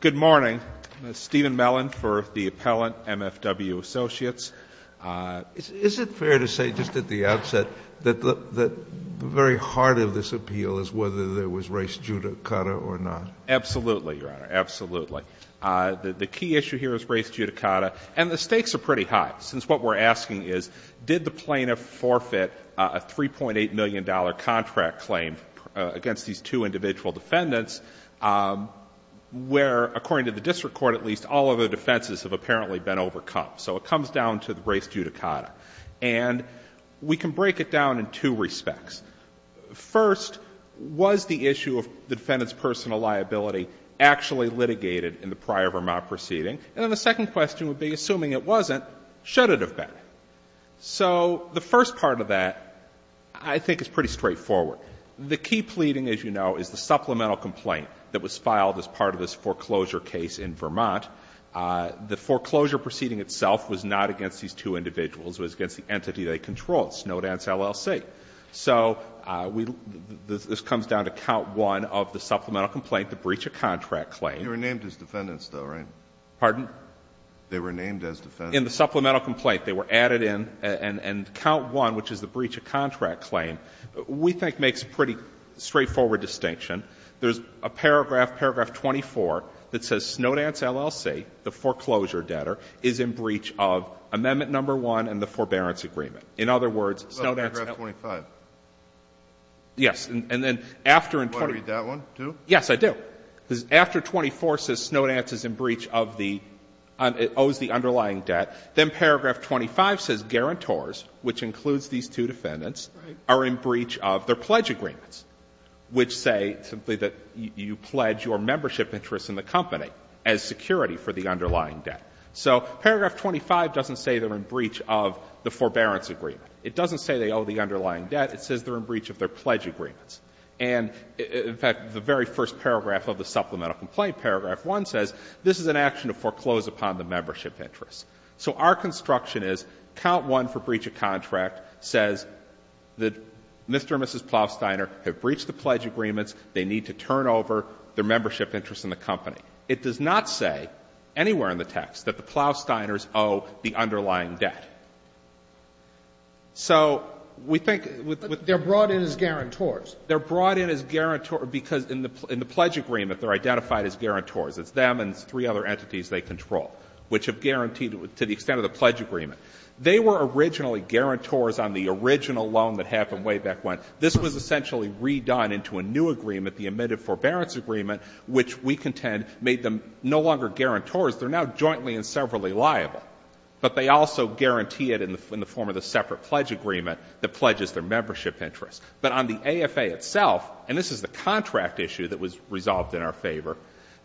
Good morning. Stephen Mellon for the appellant, MFW Associates. Is it fair to say, just at the outset, that the very heart of this appeal is whether there was race judicata or not? Absolutely, Your Honor. Absolutely. The key issue here is race judicata, and the stakes are pretty high, since what we're asking is, did the plaintiff forfeit a $3.8 million contract claim against these two individual defendants, where, according to the district court at least, all other defenses have apparently been overcome. So it comes down to the race judicata. And we can break it down in two respects. First, was the issue of the defendant's personal liability actually litigated in the prior Vermont proceeding? And then the second question would be, assuming it wasn't, should it have been? Okay. So the first part of that I think is pretty straightforward. The key pleading, as you know, is the supplemental complaint that was filed as part of this foreclosure case in Vermont. The foreclosure proceeding itself was not against these two individuals. It was against the entity they controlled, Snowdance, LLC. So we — this comes down to count one of the supplemental complaint, the breach of contract claim. They were named as defendants, though, right? Pardon? They were named as defendants. In the supplemental complaint, they were added in. And count one, which is the breach of contract claim, we think makes a pretty straightforward distinction. There's a paragraph, paragraph 24, that says Snowdance, LLC, the foreclosure debtor, is in breach of amendment number one and the forbearance agreement. In other words, Snowdance — But paragraph 25. Yes. And then after — You want to read that one, too? Yes, I do. Because after 24 says Snowdance is in breach of the — owes the underlying debt, then paragraph 25 says guarantors, which includes these two defendants, are in breach of their pledge agreements, which say simply that you pledge your membership interests in the company as security for the underlying debt. So paragraph 25 doesn't say they're in breach of the forbearance agreement. It doesn't say they owe the underlying debt. It says they're in breach of their pledge agreements. And, in fact, the very first paragraph of the supplemental complaint, paragraph 1, says this is an action to foreclose upon the membership interests. So our construction is, count one for breach of contract says that Mr. and Mrs. Plowsteiner have breached the pledge agreements, they need to turn over their membership interests in the company. It does not say anywhere in the text that the Plowsteiners owe the underlying debt. So we think with — But they're brought in as guarantors. They're brought in as guarantors because in the pledge agreement, they're identified as guarantors. It's them and three other entities they control, which have guaranteed to the extent of the pledge agreement. They were originally guarantors on the original loan that happened way back when. This was essentially redone into a new agreement, the admitted forbearance agreement, which we contend made them no longer guarantors. They're now jointly and severally liable. But they also guarantee it in the form of the separate pledge agreement that pledges their membership interests. But on the AFA itself, and this is the contract issue that was resolved in our favor,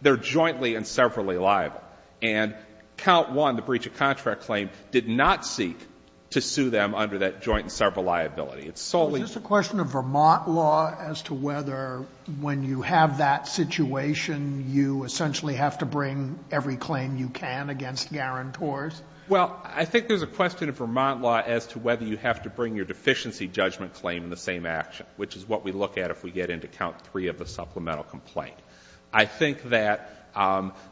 they're jointly and severally liable. And count one, the breach of contract claim did not seek to sue them under that joint and sever liability. It's solely — Is this a question of Vermont law as to whether when you have that situation, you essentially have to bring every claim you can against guarantors? Well, I think there's a question of Vermont law as to whether you have to bring your deficiency judgment claim in the same action, which is what we look at if we get into count three of the supplemental complaint. I think that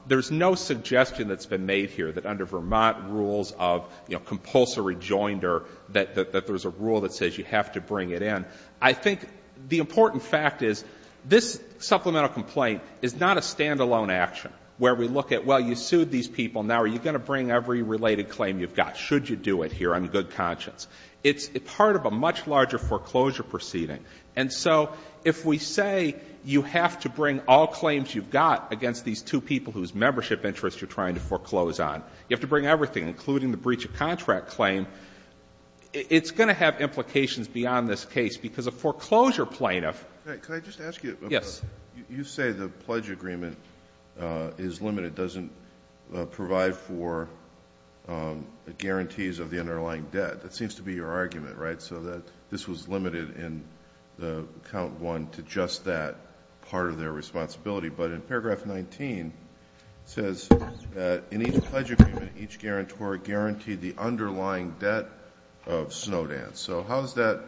there's no suggestion that's been made here that under Vermont rules of compulsory joinder that there's a rule that says you have to bring it in. I think the important fact is this supplemental complaint is not a stand-alone action where we look at, well, you sued these people. Now are you going to bring every related claim you've got, should you do it here on good conscience? It's part of a much larger foreclosure proceeding. And so if we say you have to bring all claims you've got against these two people whose membership interests you're trying to foreclose on, you have to bring everything, including the breach of contract claim, it's going to have implications beyond this case. Because a foreclosure plaintiff — Could I just ask you — Yes. You say the pledge agreement is limited, doesn't provide for the guarantees of the underlying debt. That seems to be your argument, right? So that this was limited in count one to just that part of their responsibility. But in paragraph 19, it says that in each pledge agreement, each guarantor guaranteed the underlying debt of Snowdance. So how is that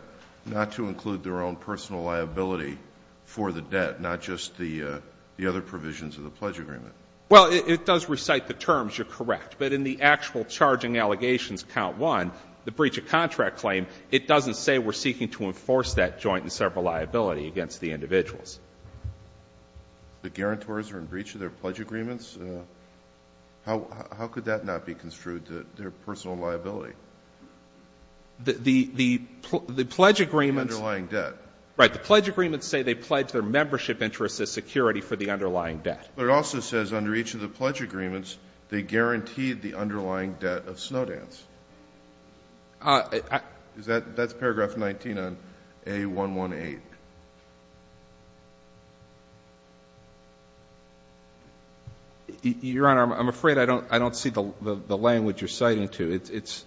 not to include their own personal liability for the debt, not just the other provisions of the pledge agreement? Well, it does recite the terms. You're correct. But in the actual charging allegations count one, the breach of contract claim, it doesn't say we're seeking to enforce that joint and several liability against the individuals. The guarantors are in breach of their pledge agreements? How could that not be construed to their personal liability? The pledge agreements — The underlying debt. Right. The pledge agreements say they pledge their membership interests as security for the underlying debt. But it also says under each of the pledge agreements, they guaranteed the underlying debt of Snowdance. Is that — that's paragraph 19 on A118. Your Honor, I'm afraid I don't — I don't see the language you're citing to. It's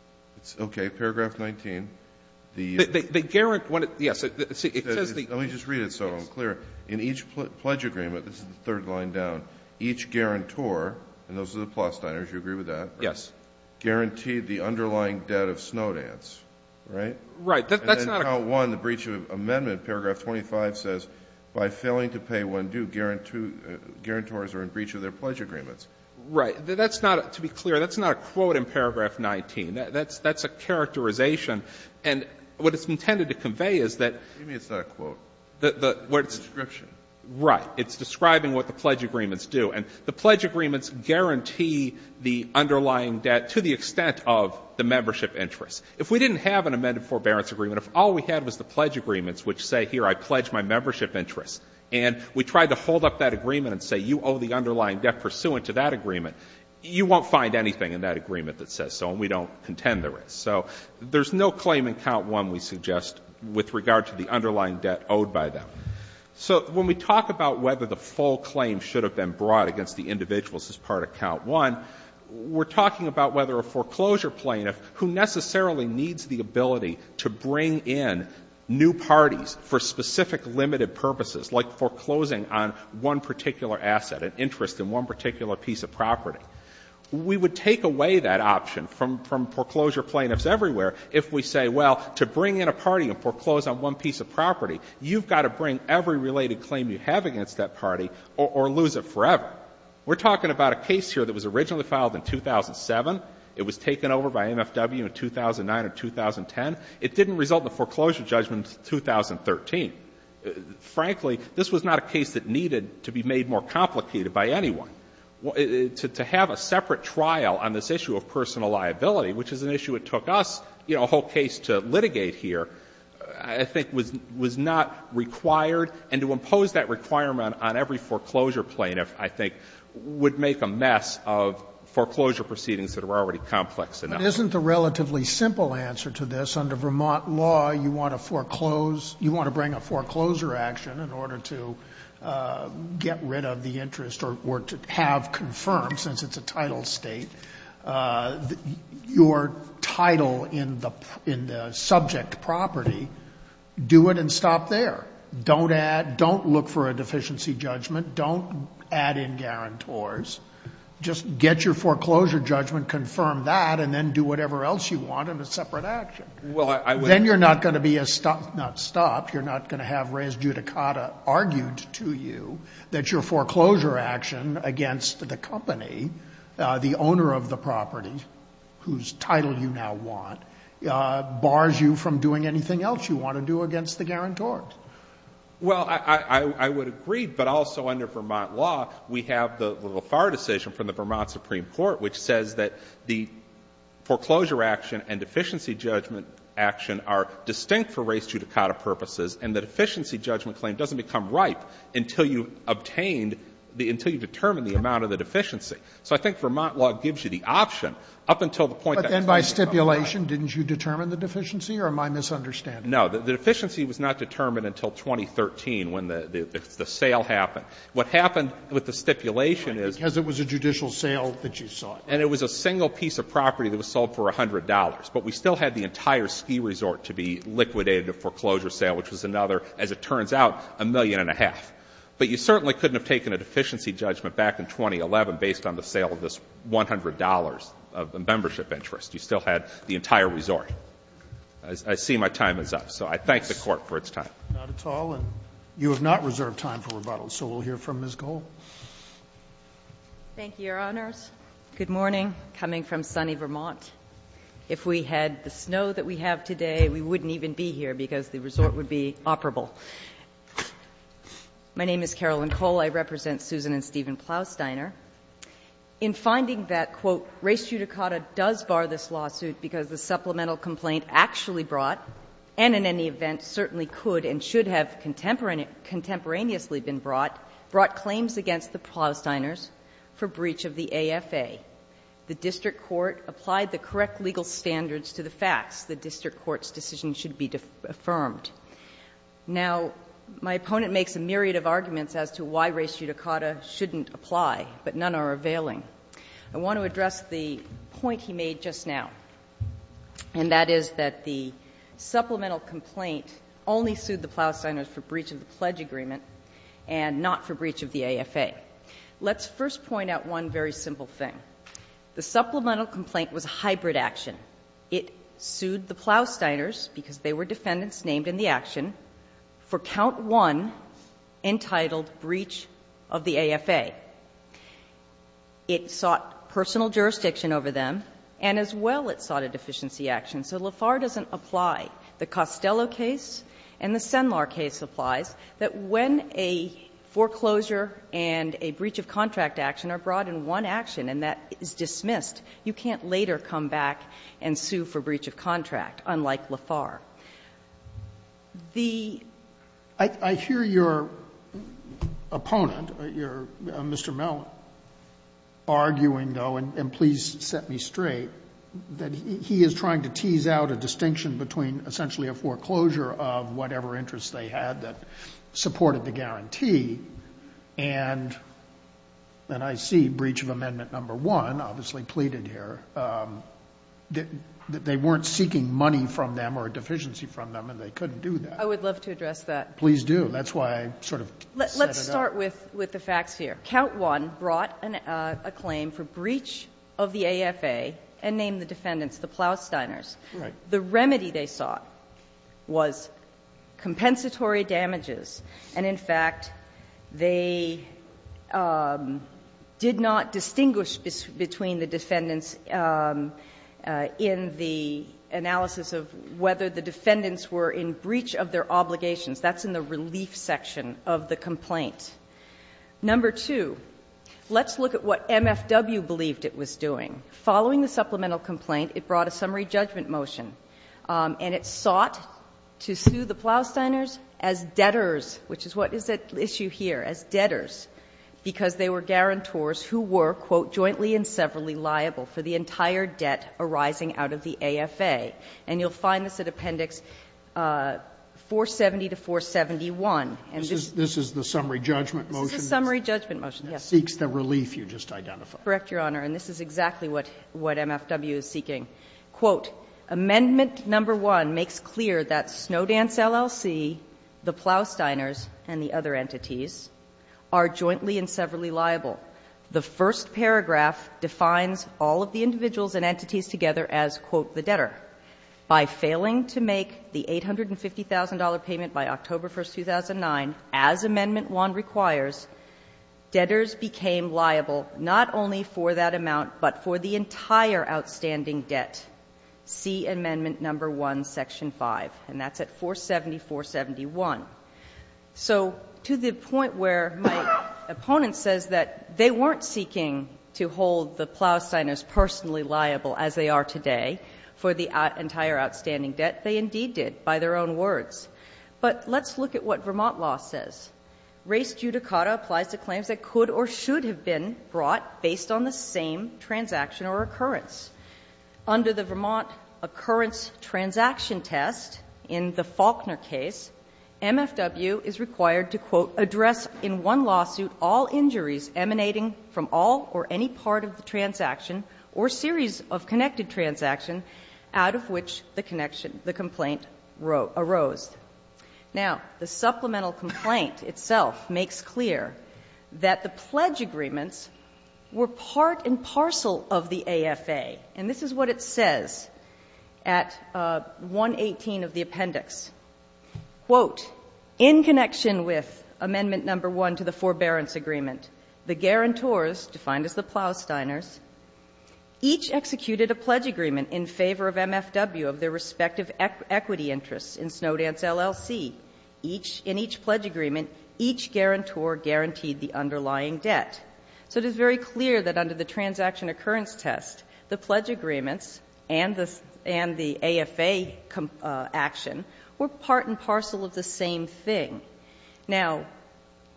— It's okay. Paragraph 19, the — The — the — yes, it says the — Let me just read it so I'm clear. In each pledge agreement, this is the third line down, each guarantor — and those are the Plosteiners, you agree with that? Yes. Guaranteed the underlying debt of Snowdance, right? Right. That's not a — And then count one, the breach of amendment, paragraph 25 says, by failing to pay when due, guarantors are in breach of their pledge agreements. Right. That's not — to be clear, that's not a quote in paragraph 19. That's — that's a characterization. And what it's intended to convey is that — The — what it's — It's a description. Right. It's describing what the pledge agreements do. And the pledge agreements guarantee the underlying debt to the extent of the membership interest. If we didn't have an amended forbearance agreement, if all we had was the pledge agreements, which say, here, I pledge my membership interest, and we tried to hold up that agreement and say, you owe the underlying debt pursuant to that agreement, you won't find anything in that agreement that says so, and we don't contend there is. So there's no claim in count one, we suggest, with regard to the underlying debt owed by them. So when we talk about whether the full claim should have been brought against the individuals as part of count one, we're talking about whether a foreclosure plaintiff, who necessarily needs the ability to bring in new parties for specific limited purposes, like foreclosing on one particular asset, an interest in one particular piece of property, we would take away that option from — from foreclosure plaintiffs everywhere if we say, well, to bring in a party and foreclose on one piece of property, you've got to bring every related claim you have against that party or — or lose it forever. We're talking about a case here that was originally filed in 2007. It was taken over by MFW in 2009 or 2010. It didn't result in a foreclosure judgment in 2013. Frankly, this was not a case that needed to be made more complicated by anyone. To have a separate trial on this issue of personal liability, which is an issue it took us, you know, a whole case to litigate here, I think was — was not required. And to impose that requirement on every foreclosure plaintiff, I think, would make a mess of foreclosure proceedings that are already complex enough. Sotomayor. Isn't the relatively simple answer to this, under Vermont law, you want to foreclose — you want to bring a foreclosure action in order to get rid of the interest or to have confirmed, since it's a title state. The — your title in the — in the subject property, do it and stop there. Don't add — don't look for a deficiency judgment. Don't add in guarantors. Just get your foreclosure judgment, confirm that, and then do whatever else you want in a separate action. Well, I — Then you're not going to be a — not stop. You're not going to have Reyes-Judicata argued to you that your foreclosure action against the company, the owner of the property, whose title you now want, bars you from doing anything else you want to do against the guarantors. Well, I — I would agree. But also, under Vermont law, we have the Lafar decision from the Vermont Supreme Court, which says that the foreclosure action and deficiency judgment action are distinct for Reyes-Judicata purposes, and the deficiency judgment claim doesn't become ripe until you've obtained the — until you've determined the amount of the deficiency. So I think Vermont law gives you the option up until the point that — But then by stipulation, didn't you determine the deficiency? Or am I misunderstanding? No. The deficiency was not determined until 2013 when the sale happened. What happened with the stipulation is — Because it was a judicial sale that you sought. And it was a single piece of property that was sold for $100. But we still had the entire ski resort to be liquidated, a foreclosure sale, which was another, as it turns out, a million and a half. But you certainly couldn't have taken a deficiency judgment back in 2011 based on the sale of this $100 of membership interest. You still had the entire resort. I see my time is up. So I thank the Court for its time. Not at all. And you have not reserved time for rebuttal. So we'll hear from Ms. Goel. Thank you, Your Honors. Good morning. Coming from sunny Vermont. If we had the snow that we have today, we wouldn't even be here because the resort would be operable. My name is Carolyn Cole. I represent Susan and Stephen Plausteiner. In finding that, quote, "'Race Judicata' does bar this lawsuit because the supplemental complaint actually brought, and in any event certainly could and should have contemporaneously been brought, brought claims against the Plausteiners for breach of the AFA, the district court applied the correct legal standards to the facts. The district court's decision should be affirmed.' Now, my opponent makes a myriad of arguments as to why Race Judicata shouldn't apply, but none are availing. I want to address the point he made just now, and that is that the supplemental complaint only sued the Plausteiners for breach of the pledge agreement and not for breach of the AFA. Let's first point out one very simple thing. The supplemental complaint was a hybrid action. It sued the Plausteiners, because they were defendants named in the action, for count one entitled breach of the AFA. It sought personal jurisdiction over them, and as well it sought a deficiency action. So LeFar doesn't apply. The Costello case and the Senlar case applies, that when a foreclosure and a breach of contract action are brought in one action and that is dismissed, you can't later come back and sue for breach of contract, unlike LeFar. The ---- Roberts. I hear your opponent, your Mr. Mellon, arguing, though, and please set me straight, that he is trying to tease out a distinction between essentially a foreclosure of whatever interest they had that supported the guarantee, and I see breach of amendment number one obviously pleaded here, that they weren't seeking money from them or a deficiency from them and they couldn't do that. I would love to address that. Please do. That's why I sort of set it up. Let's start with the facts here. Count one brought a claim for breach of the AFA and named the defendants, the Plausteiners. Right. The remedy they sought was compensatory damages, and in fact, they did not distinguish between the defendants in the analysis of whether the defendants were in breach of their obligations. That's in the relief section of the complaint. Number two, let's look at what MFW believed it was doing. Following the supplemental complaint, it brought a summary judgment motion, and it sought to sue the Plausteiners as debtors, which is what is at issue here, as debtors, because they were guarantors who were, quote, "...jointly and severally liable for the entire debt arising out of the AFA." And you'll find this at Appendix 470 to 471, and this is the summary judgment motion that seeks the relief you just identified. Correct, Your Honor, and this is exactly what MFW is seeking. Quote, "...amendment number one makes clear that Snowdance, LLC, the Plausteiners and the other entities, are jointly and severally liable. The first paragraph defines all of the individuals and entities together as, quote, the debtor. By failing to make the $850,000 payment by October 1, 2009, as amendment one requires, debtors became liable not only for that amount, but for the entire outstanding debt. See amendment number one, section 5." And that's at 47471. So to the point where my opponent says that they weren't seeking to hold the Plausteiners personally liable as they are today for the entire outstanding debt, they indeed did, by their own words. But let's look at what Vermont law says. Race judicata applies to claims that could or should have been brought based on the same transaction or occurrence. Under the Vermont occurrence transaction test in the Faulkner case, MFW is required to, quote, "...address in one lawsuit all injuries emanating from all or any part of the transaction or series of connected transactions out of which the complaint arose." Now, the supplemental complaint itself makes clear that the pledge agreements were part and parcel of the AFA. And this is what it says at 118 of the appendix. Quote, "...in connection with amendment number one to the forbearance agreement, the guarantors, defined as the Plausteiners, each executed a pledge agreement in favor of MFW of their respective equity interests in Snowdance LLC. In each pledge agreement, each guarantor guaranteed the underlying debt." So it is very clear that under the transaction occurrence test, the pledge agreements and the AFA action were part and parcel of the same thing. Now,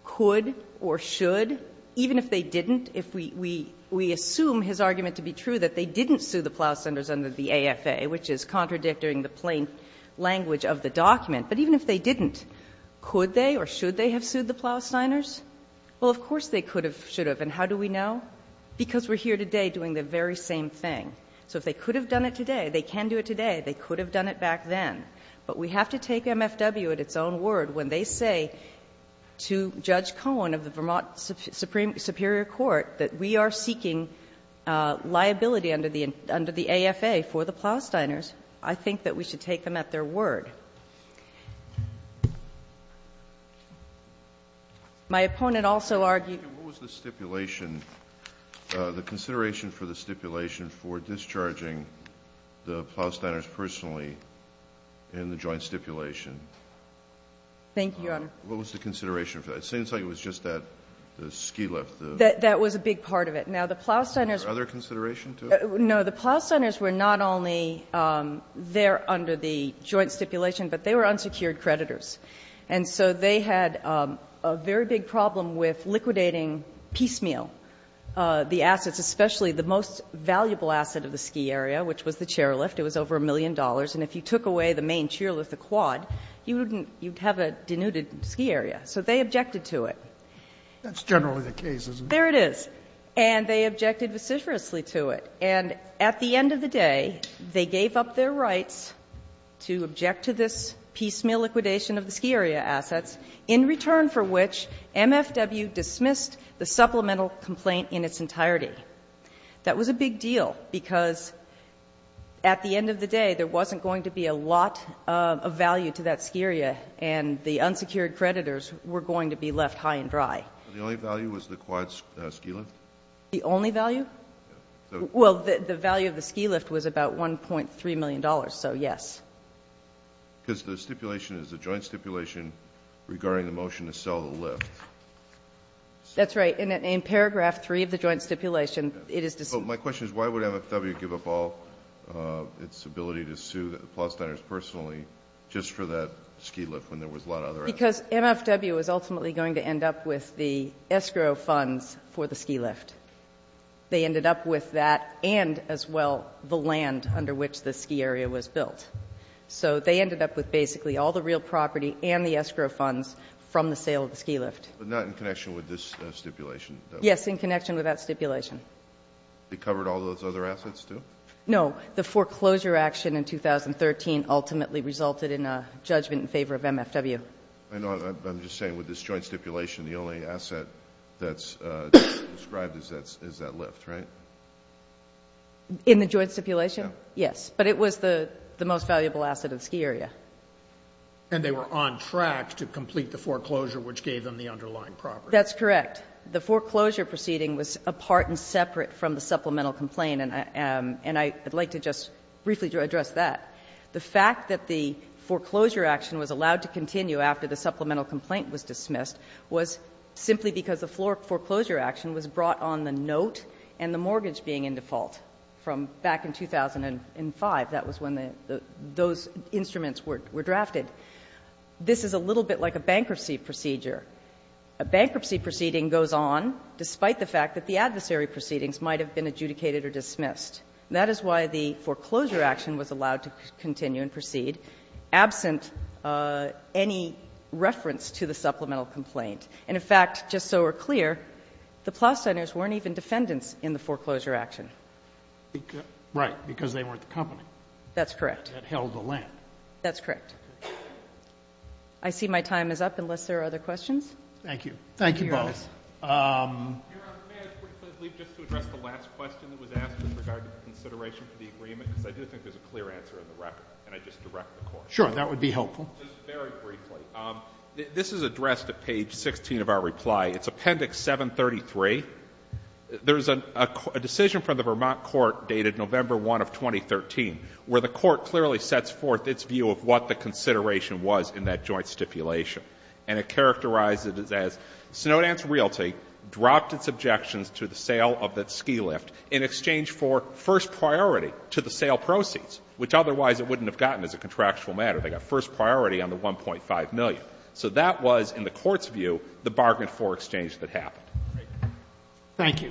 could or should, even if they didn't, if we assume his argument to be true that they didn't sue the Plausteiners under the AFA, which is contradicting the plain language of the document, but even if they didn't, could they or should they have sued the Plausteiners? Well, of course they could have, should have. And how do we know? Because we're here today doing the very same thing. So if they could have done it today, they can do it today. They could have done it back then. But we have to take MFW at its own word when they say to Judge Cohen of the Vermont Supreme Superior Court that we are seeking liability under the AFA for the Plausteiners. I think that we should take them at their word. My opponent also argued the stipulation, the consideration for the stipulation for discharging the Plausteiners personally in the joint stipulation. Thank you, Your Honor. What was the consideration for that? It seems like it was just that, the ski lift. That was a big part of it. Now, the Plausteiners were not only there under the joint stipulation, but they were unsecured creditors. And so they had a very big problem with liquidating piecemeal the assets, especially the most valuable asset of the ski area, which was the chairlift. It was over a million dollars. And if you took away the main chairlift, the quad, you would have a denuded ski area. So they objected to it. That's generally the case, isn't it? There it is. And they objected vociferously to it. And at the end of the day, they gave up their rights to object to this piecemeal liquidation of the ski area assets, in return for which MFW dismissed the supplemental complaint in its entirety. That was a big deal because at the end of the day, there wasn't going to be a lot of value to that ski area. And the unsecured creditors were going to be left high and dry. So the only value was the quad ski lift? The only value? Well, the value of the ski lift was about $1.3 million. So, yes. Because the stipulation is a joint stipulation regarding the motion to sell the lift. That's right. And in paragraph three of the joint stipulation, it is to say. So my question is, why would MFW give up all its ability to sue the Plost Diners personally just for that ski lift when there was a lot of other assets? Because MFW was ultimately going to end up with the escrow funds for the ski lift. They ended up with that and, as well, the land under which the ski area was built. So they ended up with basically all the real property and the escrow funds from the sale of the ski lift. But not in connection with this stipulation? Yes, in connection with that stipulation. It covered all those other assets, too? No. The foreclosure action in 2013 ultimately resulted in a judgment in favor of MFW. I know. I'm just saying with this joint stipulation, the only asset that's described is that lift, right? In the joint stipulation? Yes. But it was the most valuable asset of the ski area. And they were on track to complete the foreclosure, which gave them the underlying property. That's correct. The foreclosure proceeding was apart and separate from the supplemental complaint. And I'd like to just briefly address that. The fact that the foreclosure action was allowed to continue after the supplemental complaint was dismissed was simply because the foreclosure action was brought on the note and the mortgage being in default. From back in 2005, that was when those instruments were drafted. This is a little bit like a bankruptcy procedure. A bankruptcy proceeding goes on despite the fact that the adversary proceedings might have been adjudicated or dismissed. That is why the foreclosure action was allowed to continue and proceed absent any reference to the supplemental complaint. And in fact, just so we're clear, the Plow Centers weren't even defendants in the foreclosure action. Right. Because they weren't the company. That's correct. That held the land. That's correct. I see my time is up unless there are other questions. Thank you. Thank you both. Your Honor, may I quickly leave just to address the last question that was asked with regard to the consideration for the agreement? Because I do think there's a clear answer in the record. Can I just direct the Court? Sure. That would be helpful. Just very briefly. This is addressed at page 16 of our reply. It's Appendix 733. There's a decision from the Vermont Court dated November 1 of 2013 where the Court clearly sets forth its view of what the consideration was in that joint stipulation. And it characterized it as Snowdance Realty dropped its objections to the sale of that ski lift in exchange for first priority to the sale proceeds, which otherwise it wouldn't have gotten as a contractual matter. They got first priority on the $1.5 million. So that was, in the Court's view, the bargain for exchange that happened. Thank you.